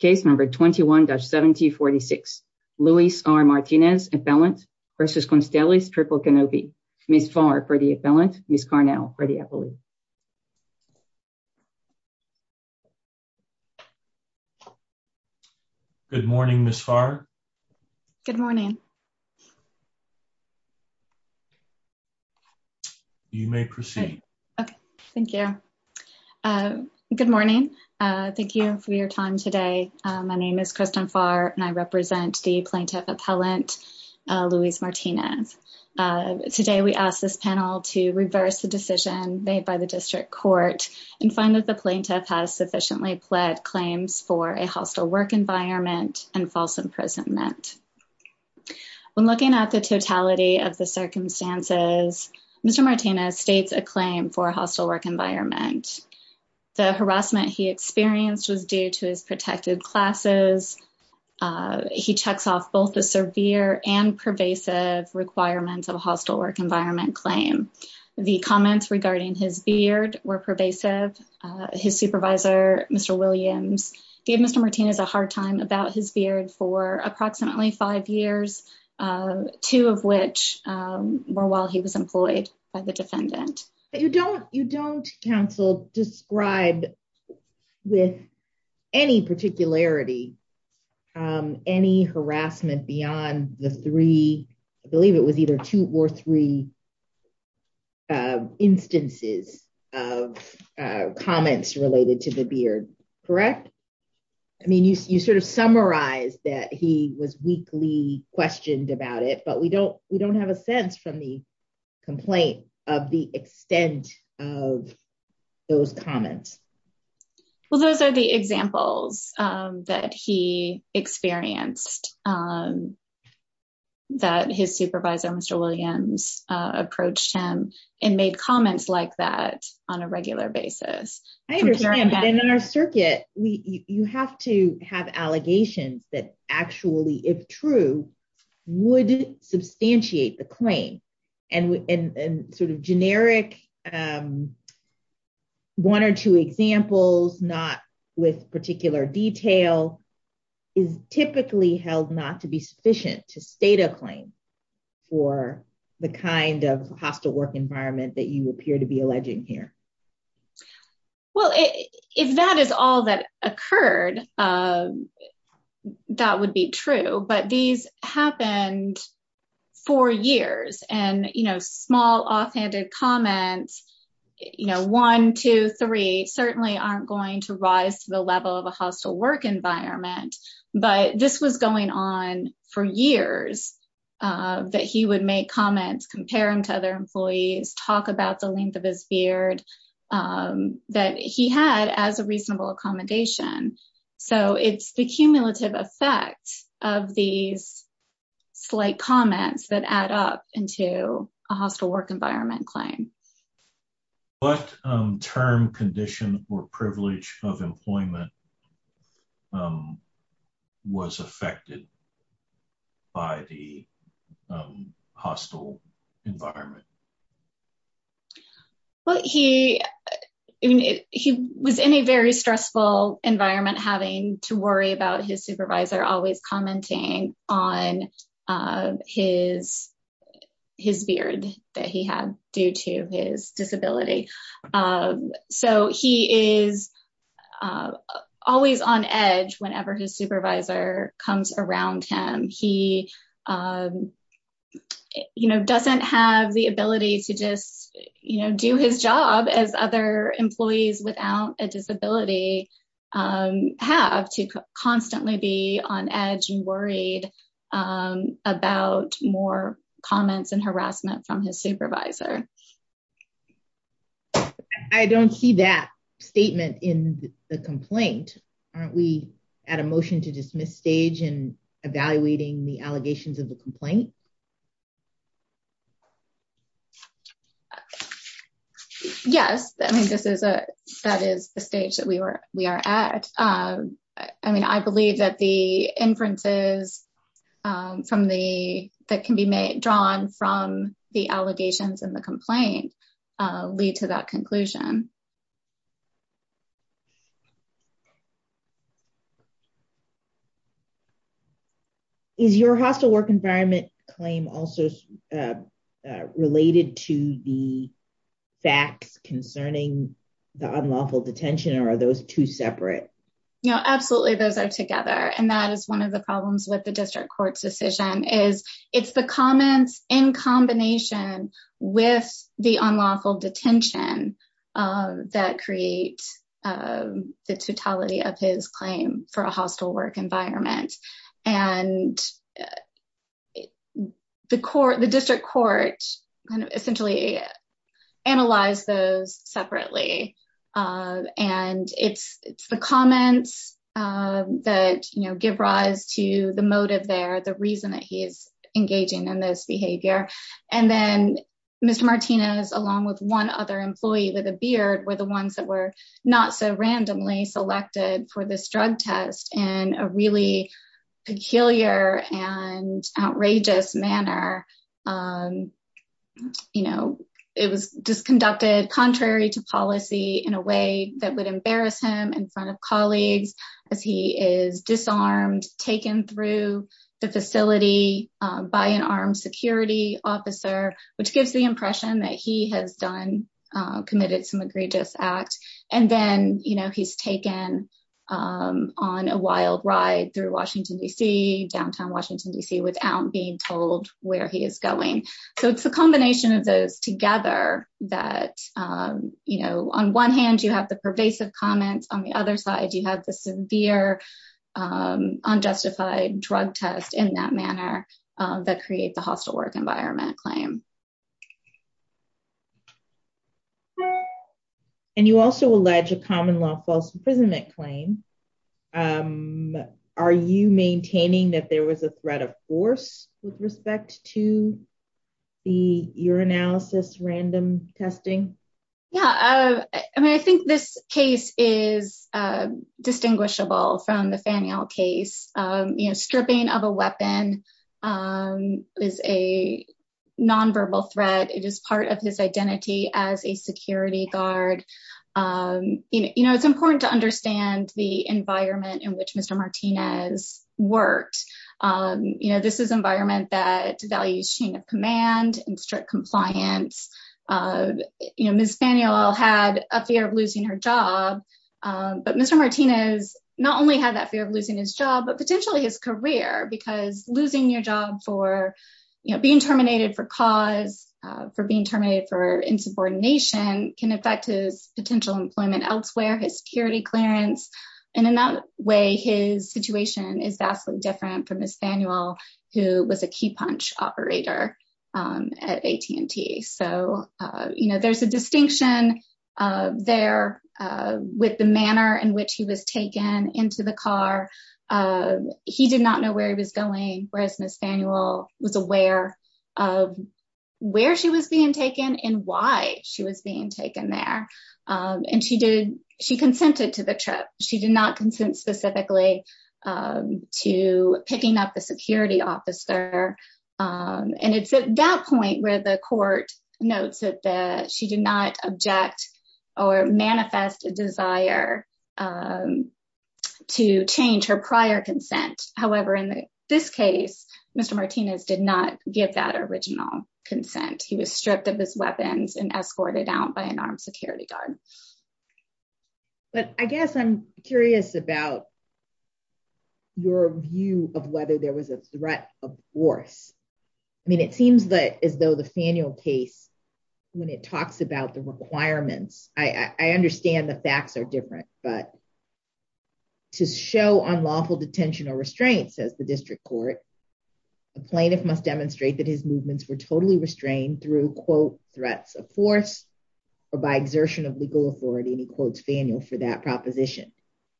Case number 21-7046, Luis R. Martinez, appellant versus Constellis, Triple Canopy. Ms. Farr for the appellant, Ms. Carnell for the appellate. Good morning, Ms. Farr. Good morning. You may proceed. Okay, thank you. Good morning. Thank you for your time today. My name is Kristen Farr and I represent the plaintiff appellant, Luis Martinez. Today, we ask this panel to reverse the decision made by the district court and find that the plaintiff has sufficiently pled claims for a hostile work environment and false imprisonment. When looking at the totality of the circumstances, Mr. Martinez states a claim for a hostile work environment. The harassment he experienced was due to his protected classes. He checks off both the severe and pervasive requirements of a hostile work environment claim. The comments regarding his beard were pervasive. His supervisor, Mr. Williams, gave Mr. Martinez a hard time about his beard for approximately five years, two of which were while he was employed by the defendant. You don't, counsel, describe with any particularity any harassment beyond the three, I believe it was either two or three, instances of comments related to the beard, correct? I mean, you sort of summarize that he was weakly questioned about it, but we don't have a sense from the complaint of the extent of those comments. Well, those are the examples that he experienced, that his supervisor, Mr. Williams, approached him and made comments like that on a regular basis. I understand, but in our circuit, you have to have allegations that actually, if true, would substantiate the claim. And sort of generic one or two examples, not with particular detail, is typically held not to be sufficient to state a claim for the kind of hostile work environment that you appear to be alleging here. Well, if that is all that occurred, that would be true, but these happened for years. Small offhanded comments, one, two, three, certainly aren't going to rise to the level of a hostile work environment, but this was going on for years, that he would make comments, compare them to other employees, talk about the length of his beard that he had as a reasonable accommodation. So it's the cumulative effect of these slight comments that add up into a hostile work environment claim. What term, condition, or privilege of employment was affected by the hostile environment? Well, he was in a very stressful environment having to worry about his supervisor always commenting on his beard that he had due to his disability. So he is always on edge whenever his supervisor comes around him. He doesn't have the ability to just do his job as other employees without a disability have to constantly be on edge and worried about more comments and harassment from his supervisor. I don't see that statement in the complaint. Aren't we at a motion to dismiss stage in evaluating the allegations of the complaint? Yes, I mean, that is the stage that we are at. I mean, I believe that the inferences that can be drawn from the allegations in the complaint lead to that conclusion. Is your hostile work environment claim also related to the facts concerning the unlawful detention, or are those two separate? No, absolutely, those are together. And that is one of the problems with the district court's decision is it's the comments in combination with the unlawful detention that create the totality of his claim for a hostile work environment. And the district court essentially analyzed those separately, and it's the comments that give rise to the motive there, the reason that he's engaging in this behavior. And then Mr. Martinez, along with one other employee with a beard, were the ones that were not so randomly selected for this drug test in a really peculiar and outrageous manner. It was just conducted contrary to policy in a way that would embarrass him in front of colleagues as he is disarmed, taken through the facility by an armed security officer, which gives the impression that he has committed some egregious act. And then he's taken on a wild ride through Washington, D.C., downtown Washington, D.C., without being told where he is going. So it's a combination of those together that on one hand, you have the pervasive comments, on the other side, you have the severe unjustified drug test in that manner that create the hostile work environment claim. And you also allege a common law false imprisonment claim. Are you maintaining that there was a threat of force with respect to the urinalysis random testing? Yeah, I mean, I think this case is distinguishable from the Faneuil case. Stripping of a weapon is a nonverbal threat. It is part of his identity as a security guard. It's important to understand the environment in which Mr. Martinez worked. This is environment that devalues chain of command and strict compliance. Ms. Faneuil had a fear of losing her job, but Mr. Martinez not only had that fear of losing his job, but potentially his career, because losing your job for being terminated for cause, for being terminated for insubordination can affect his potential employment elsewhere, his security clearance. And in that way, his situation is vastly different from Ms. Faneuil, who was a key punch operator at AT&T. So, there's a distinction there with the manner in which he was taken into the car. He did not know where he was going, whereas Ms. Faneuil was aware of where she was being taken and why she was being taken there. And she consented to the trip. She did not consent specifically to picking up the security officer. And it's at that point where the court notes that she did not object or manifest a desire to change her prior consent. However, in this case, Mr. Martinez did not give that original consent. He was stripped of his weapons and escorted out by an armed security guard. But I guess I'm curious about your view of whether there was a threat of force. I mean, it seems that as though the Faneuil case, when it talks about the requirements, I understand the facts are different, but to show unlawful detention or restraints, says the district court, a plaintiff must demonstrate that his movements were totally restrained through quote, threats of force or by exertion of legal authority, and he quotes Faneuil for that proposition.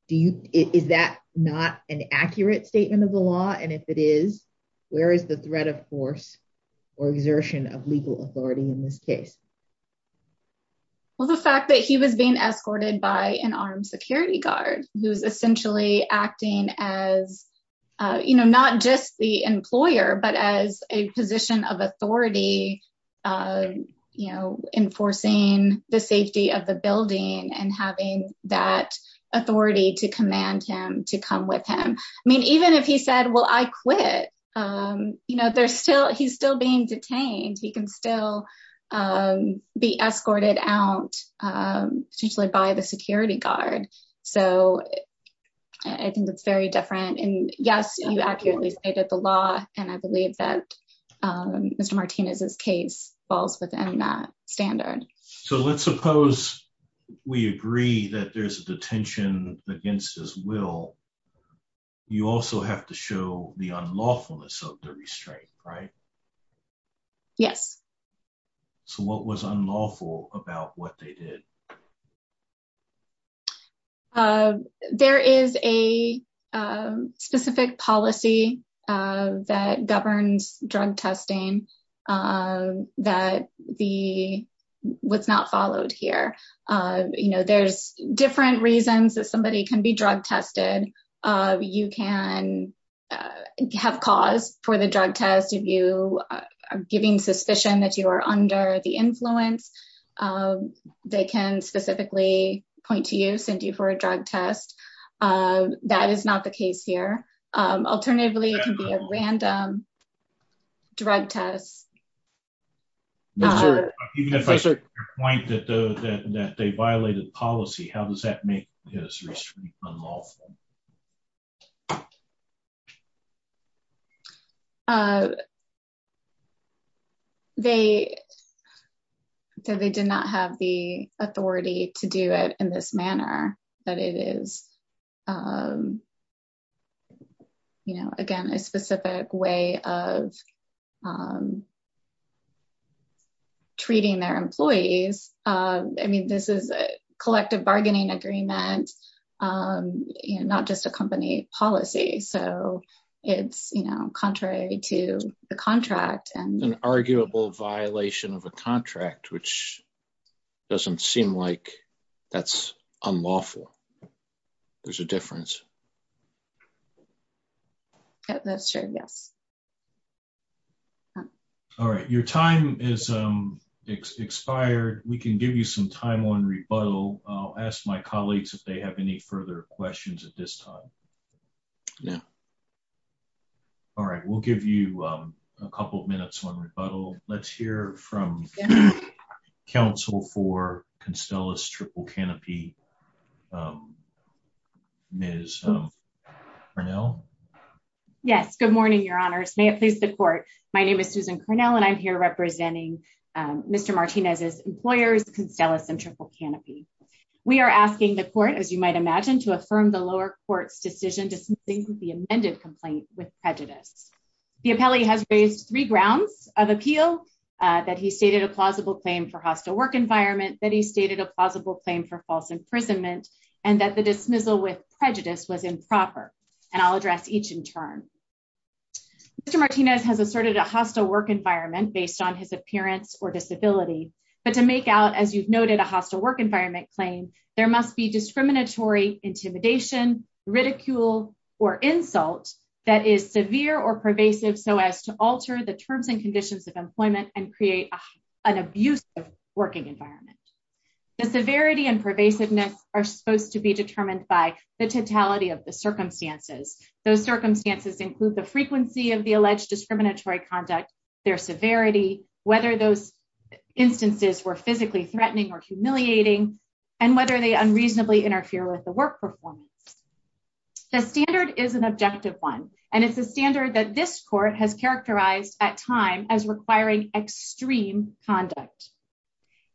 Is that not an accurate statement of the law? And if it is, where is the threat of force or exertion of legal authority in this case? Well, the fact that he was being escorted by an armed security guard, who's essentially acting as not just the employer, but as a position of authority, enforcing the safety of the building and having that authority to command him to come with him. I mean, even if he said, well, I quit, he's still being detained. He can still be escorted out potentially by the security guard. So I think that's very different. And yes, you accurately stated the law and I believe that Mr. Martinez's case falls within that standard. So let's suppose we agree that there's a detention against his will. You also have to show the unlawfulness of the restraint, right? Yes. So what was unlawful about what they did? There is a specific policy that governs drug testing that the, what's not followed here. You know, there's different reasons that somebody can be drug tested. You can have cause for the drug test. If you are giving suspicion that you are under the influence, they can specifically point to you, send you for a drug test. That is not the case here. Alternatively, it can be a random drug test. Even if I should point that they violated policy, how does that make his restraint unlawful? They did not have the authority to do it in this manner, that it is, you know, again, a specific way of treating their employees. I mean, this is a collective bargaining agreement, not just a company policy. So it's, you know, contrary to the contract. An arguable violation of a contract, which doesn't seem like that's unlawful. There's a difference. Yeah, that's true, yes. All right, your time is expired. We can give you some time on rebuttal. I'll ask my colleagues if they have any further questions at this time. All right, we'll give you a couple of minutes on rebuttal. Let's hear from counsel for Constellus Triple Canopy, Ms. Cornell. Yes, good morning, your honors. May it please the court. My name is Susan Cornell, and I'm here representing Mr. Martinez's employers, Constellus and Triple Canopy. We are asking the court, as you might imagine, to affirm the lower court's decision dismissing the amended complaint with prejudice. The appellee has raised three grounds of appeal, that he stated a plausible claim for hostile work environment, that he stated a plausible claim for false imprisonment, and that the dismissal with prejudice was improper. And I'll address each in turn. Mr. Martinez has asserted a hostile work environment based on his appearance or disability. But to make out, as you've noted, a hostile work environment claim, there must be discriminatory intimidation, ridicule, or insult that is severe or pervasive so as to alter the terms and conditions of employment and create an abusive working environment. The severity and pervasiveness are supposed to be determined by the totality of the circumstances. Those circumstances include the frequency of the alleged discriminatory conduct, their severity, whether those instances were physically threatening or humiliating, and whether they unreasonably interfere with the work performance. The standard is an objective one, and it's a standard that this court has characterized at time as requiring extreme conduct.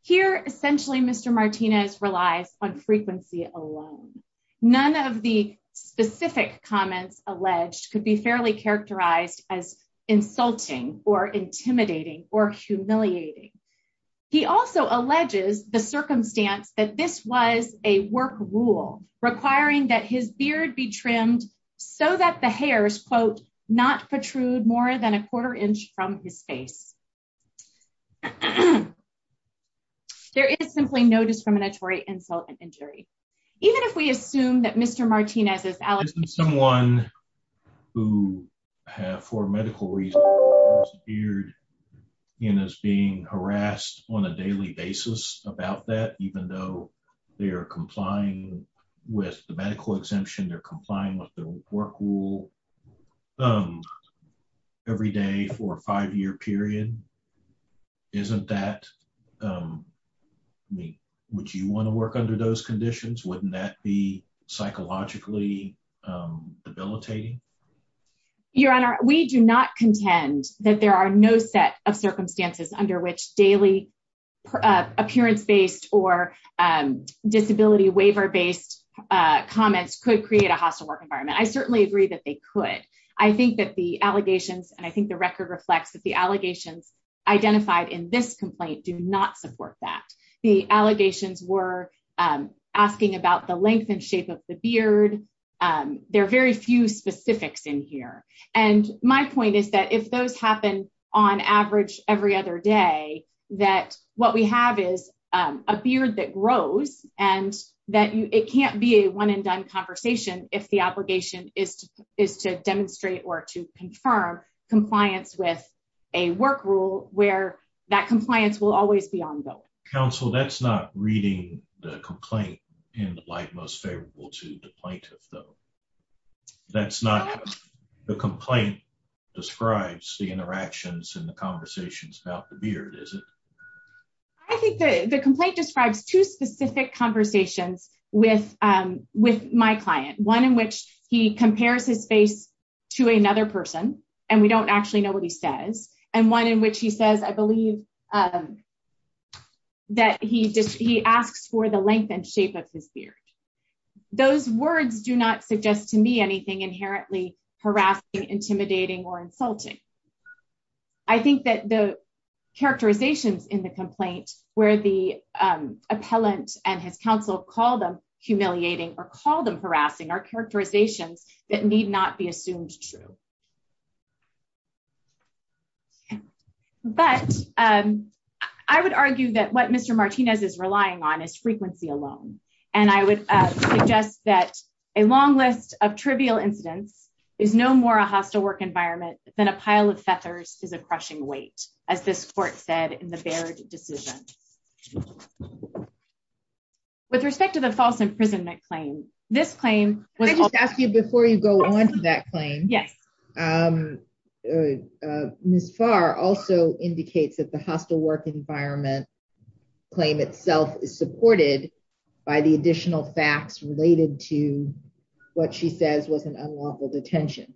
Here, essentially, Mr. Martinez relies on frequency alone. None of the specific comments alleged could be fairly characterized as insulting or intimidating or humiliating. He also alleges the circumstance that this was a work rule requiring that his beard be trimmed so that the hairs, quote, not protrude more than a quarter inch from his face. There is simply no discriminatory insult and injury. Even if we assume that Mr. Martinez is alleging- Isn't someone who, for medical reasons, appeared in as being harassed on a daily basis about that, even though they are complying with the medical exemption, they're complying with the work rule every day for a five-year period? Isn't that... Would you want to work under those conditions? Wouldn't that be psychologically debilitating? Your Honor, we do not contend that there are no set of circumstances under which daily appearance-based or disability waiver-based comments could create a hostile work environment. I certainly agree that they could. I think that the allegations, and I think the record reflects, that the allegations identified in this complaint do not support that. The allegations were asking about the length and shape of the beard. There are very few specifics in here. And my point is that if those happen, on average, every other day, that what we have is a beard that grows and that it can't be a one-and-done conversation if the obligation is to demonstrate or to confirm compliance with a work rule where that compliance will always be ongoing. Counsel, that's not reading the complaint in the light most favorable to the plaintiff, though. That's not the complaint describes the interactions and the conversations about the beard, is it? I think the complaint describes two specific conversations with my client, one in which he compares his face to another person, and we don't actually know what he says, and one in which he says, I believe, that he asks for the length and shape of his beard. Those words do not suggest to me anything inherently harassing, intimidating, or insulting. I think that the characterizations in the complaint where the appellant and his counsel call them humiliating or call them harassing are characterizations that need not be assumed true. But I would argue that what Mr. Martinez is relying on is frequency alone. And I would suggest that a long list of trivial incidents is no more a hostile work environment than a pile of feathers is a crushing weight, as this court said in the Baird decision. With respect to the false imprisonment claim, this claim was- Can I just ask you before you go on to that claim? Yes. Ms. Farr also indicates that the hostile work environment claim itself is supported by the additional facts related to what she says was an unlawful detention.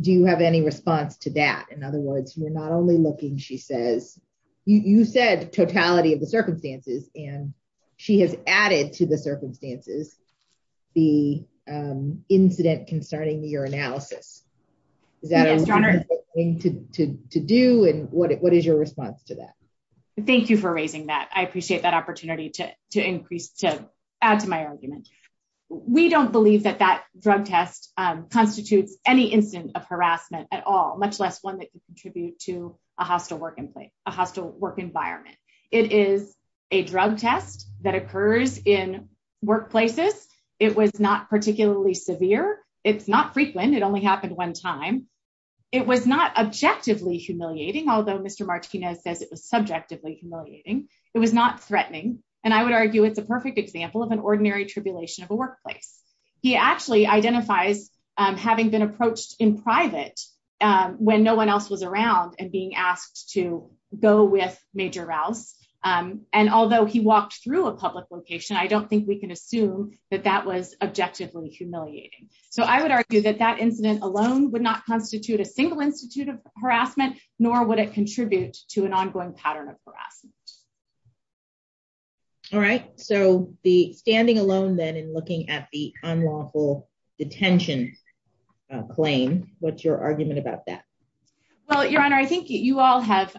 Do you have any response to that? In other words, you're not only looking, she says, you said totality of the circumstances, and she has added to the circumstances the incident concerning your analysis. Is that a reasonable thing to do? And what is your response to that? Thank you for raising that. I appreciate that opportunity to increase, to add to my argument. We don't believe that that drug test constitutes any incident of harassment at all, much less one that could contribute to a hostile work environment. It is a drug test that occurs in workplaces. It was not particularly severe. It's not frequent, it only happened one time. It was not objectively humiliating, although Mr. Martinez says it was subjectively humiliating. It was not threatening. And I would argue it's a perfect example of an ordinary tribulation of a workplace. He actually identifies having been approached in private when no one else was around and being asked to go with Major Rouse. And although he walked through a public location, I don't think we can assume that that was objectively humiliating. So I would argue that that incident alone would not constitute a single institute of harassment, nor would it contribute to an ongoing pattern of harassment. All right. So the standing alone then in looking at the unlawful detention claim, what's your argument about that? Well, Your Honor, I think you all have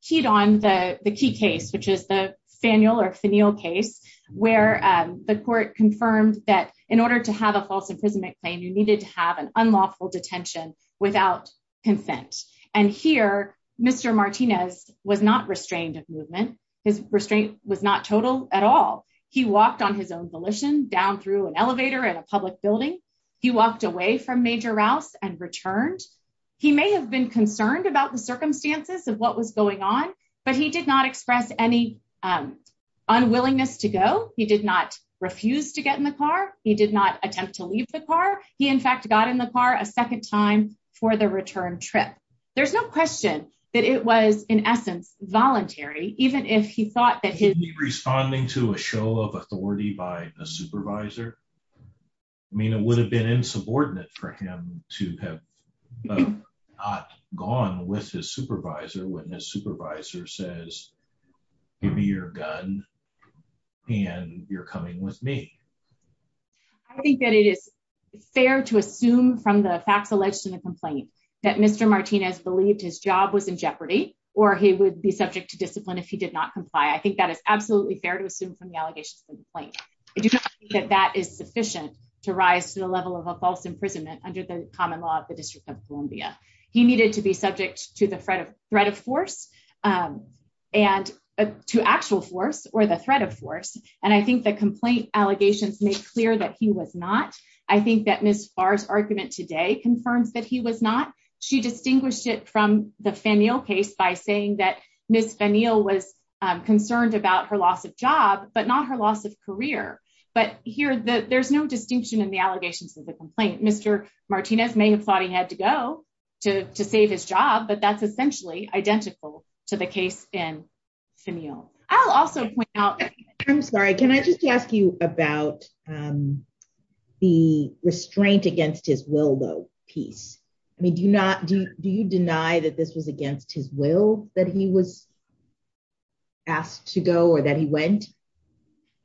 keyed on the key case, which is the FANEL or FANEL case, where the court confirmed that in order to have a false imprisonment claim, you needed to have an unlawful detention without consent. And here, Mr. Martinez was not restrained of movement. His restraint was not total at all. He walked on his own volition down through an elevator at a public building. He walked away from Major Rouse and returned. He may have been concerned about the circumstances of what was going on, but he did not express any unwillingness to go. He did not refuse to get in the car. He did not attempt to leave the car. He, in fact, got in the car a second time for the return trip. There's no question that it was, in essence, voluntary, even if he thought that his... Could he be responding to a show of authority by a supervisor? I mean, it would have been insubordinate for him to have not gone with his supervisor when his supervisor says, give me your gun and you're coming with me. I think that it is fair to assume from the facts alleged in the complaint that Mr. Martinez believed his job was in jeopardy or he would be subject to discipline if he did not comply. I think that is absolutely fair to assume from the allegations in the complaint. I do not think that that is sufficient to rise to the level of a false imprisonment under the common law of the District of Columbia. He needed to be subject to the threat of force and to actual force or the threat of force. And I think the complaint allegations make clear that he was not. I think that Ms. Farr's argument today confirms that he was not. She distinguished it from the Fanil case by saying that Ms. Fanil was concerned about her loss of job but not her loss of career. But here, there's no distinction in the allegations of the complaint. Mr. Martinez may have thought he had to go to save his job, but that's essentially identical to the case in Fanil. I'll also point out- I'm sorry, can I just ask you about the restraint against his will, though, piece? I mean, do you deny that this was against his will that he was asked to go or that he went?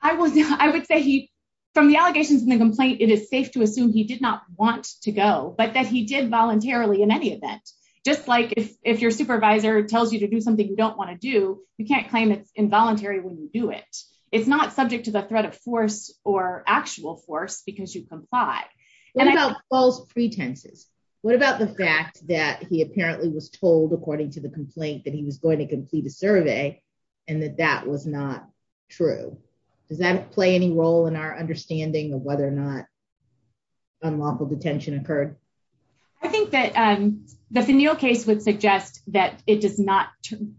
I would say from the allegations in the complaint, it is safe to assume he did not want to go but that he did voluntarily in any event. Just like if your supervisor tells you to do something you don't wanna do, you can't claim it's involuntary when you do it. It's not subject to the threat of force or actual force because you comply. What about false pretenses? What about the fact that he apparently was told, according to the complaint, that he was going to complete a survey and that that was not true? Does that play any role in our understanding of whether or not unlawful detention occurred? I think that the Fanil case would suggest that it does not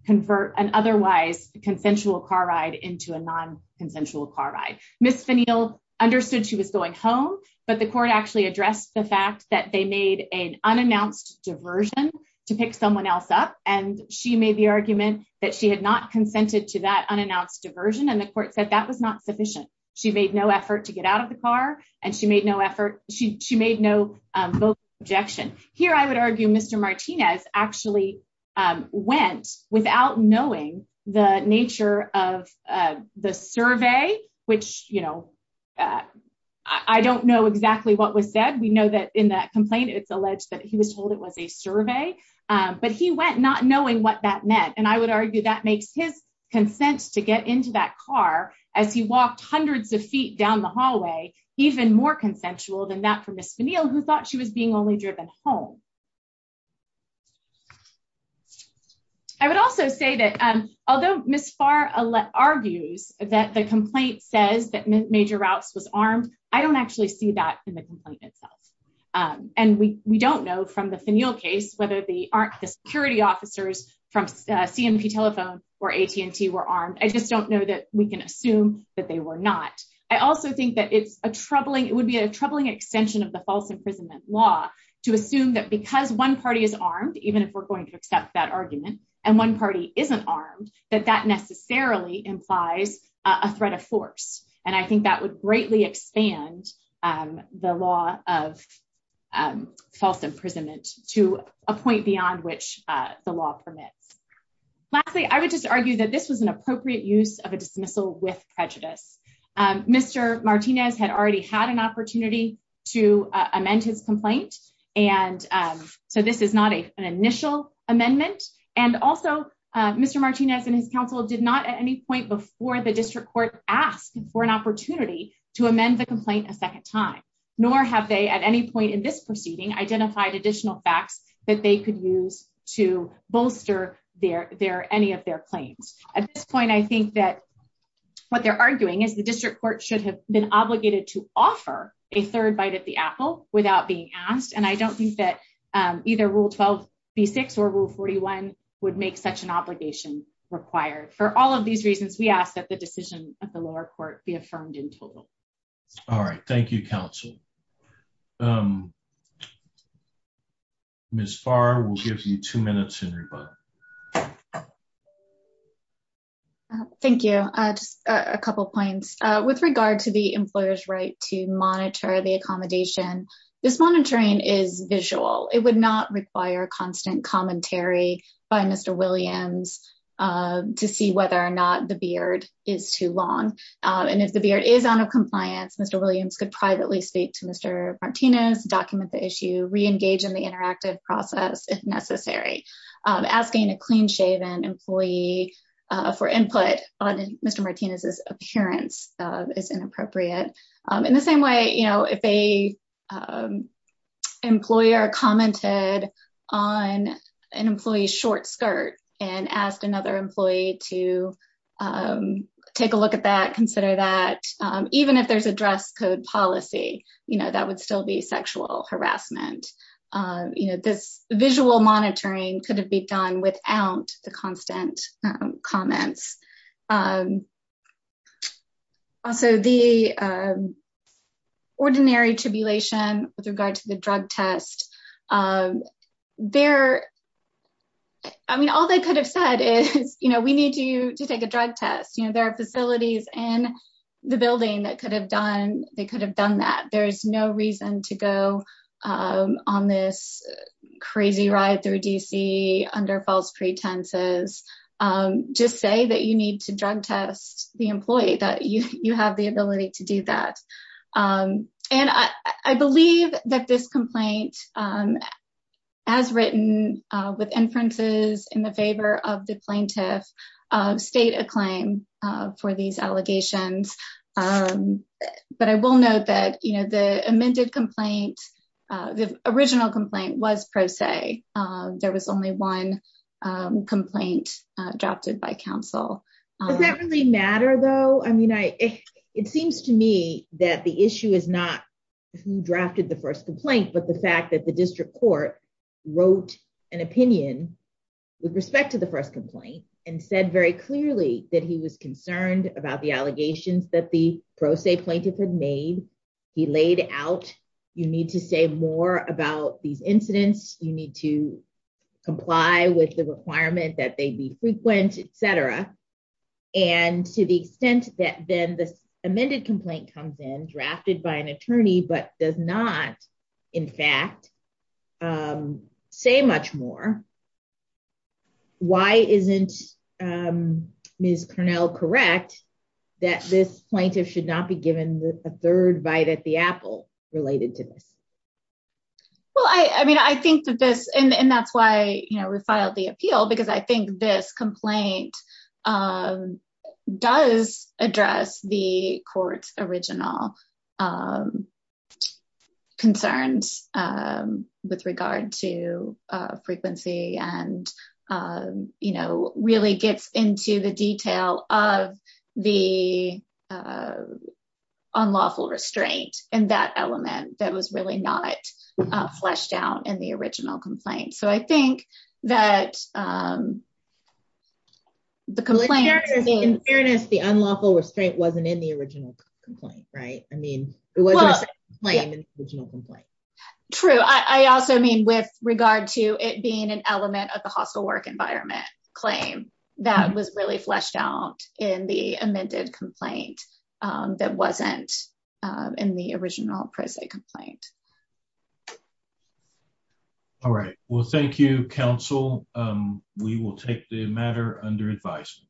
convert an otherwise consensual car ride into a non-consensual car ride. Ms. Fanil understood she was going home but the court actually addressed the fact that they made an unannounced diversion to pick someone else up. And she made the argument that she had not consented to that unannounced diversion. And the court said that was not sufficient. She made no effort to get out of the car and she made no vocal objection. Here, I would argue Mr. Martinez actually went without knowing the nature of the survey, which I don't know exactly what was said. We know that in that complaint, it's alleged that he was told it was a survey, but he went not knowing what that meant. And I would argue that makes his consent to get into that car as he walked hundreds of feet down the hallway even more consensual than that for Ms. Fanil who thought she was being only driven home. I would also say that although Ms. Farr argues that the complaint says that Major Routes was armed, I don't actually see that in the complaint itself. And we don't know from the Fanil case whether the security officers from CMP Telephone or AT&T were armed. I just don't know that we can assume that they were not. I also think that it would be a troubling extension of the false imprisonment law to assume that because one party is armed, even if we're going to accept that argument, and one party isn't armed, that that necessarily implies a threat of force. And I think that would greatly expand the law of false imprisonment to a point beyond which the law permits. Lastly, I would just argue that this was an appropriate use of a dismissal with prejudice. Mr. Martinez had already had an opportunity to amend his complaint. And so this is not an initial amendment. And also, Mr. Martinez and his counsel did not at any point before the district court ask for an opportunity to amend the complaint a second time, nor have they at any point in this proceeding identified additional facts that they could use to bolster any of their claims. At this point, I think that what they're arguing is the district court should have been obligated to offer a third bite at the apple without being asked. And I don't think that either Rule 12b-6 or Rule 41 would make such an obligation required. For all of these reasons, we ask that the decision of the lower court be affirmed in total. All right, thank you, counsel. Ms. Farr, we'll give you two minutes in rebuttal. Thank you. Just a couple of points. With regard to the employer's right to monitor the accommodation, this monitoring is visual. It would not require constant commentary by Mr. Williams to see whether or not the beard is too long. And if the beard is out of compliance, Mr. Williams could privately speak to Mr. Martinez, document the issue, re-engage in the interactive process if necessary. Asking a clean-shaven employee for input on Mr. Martinez's appearance is inappropriate. In the same way, if a employer commented on an employee's short skirt and asked another employee to take a look at that, consider that, even if there's a dress code policy, that would still be sexual harassment. This visual monitoring could have been done without the constant comments. Also, the ordinary tribulation with regard to the drug test, I mean, all they could have said is, we need you to take a drug test. There are facilities in the building that could have done that. There is no reason to go on this crazy ride through D.C. under false pretenses. Just say that you need to drug test the employee, that you have the ability to do that. And I believe that this complaint, as written with inferences in the favor of the plaintiff, stayed a claim for these allegations. But I will note that the amended complaint, the original complaint was pro se. There was only one complaint drafted by counsel. Does that really matter, though? I mean, it seems to me that the issue is not who drafted the first complaint, but the fact that the district court wrote an opinion with respect to the first complaint and said very clearly that he was concerned about the allegations that the pro se plaintiff had made. He laid out, you need to say more about these incidents, you need to comply with the requirement that they be frequent, et cetera. And to the extent that then this amended complaint comes in, drafted by an attorney, but does not, in fact, say much more, why isn't Ms. Cornell correct that this plaintiff should not be given a third bite at the apple related to this? Well, I mean, I think that this, and that's why we filed the appeal, because I think this complaint does address the court's original concerns with regard to frequency and really gets into the detail of the unlawful restraint and that element that was really not fleshed out in the original complaint. So I think that the complaint- In fairness, the unlawful restraint wasn't in the original complaint, right? I mean, it wasn't a second claim in the original complaint. True, I also mean with regard to it being an element of the hostile work environment claim that was really fleshed out in the amended complaint that wasn't in the original present complaint. All right, well, thank you, counsel. We will take the matter under advice.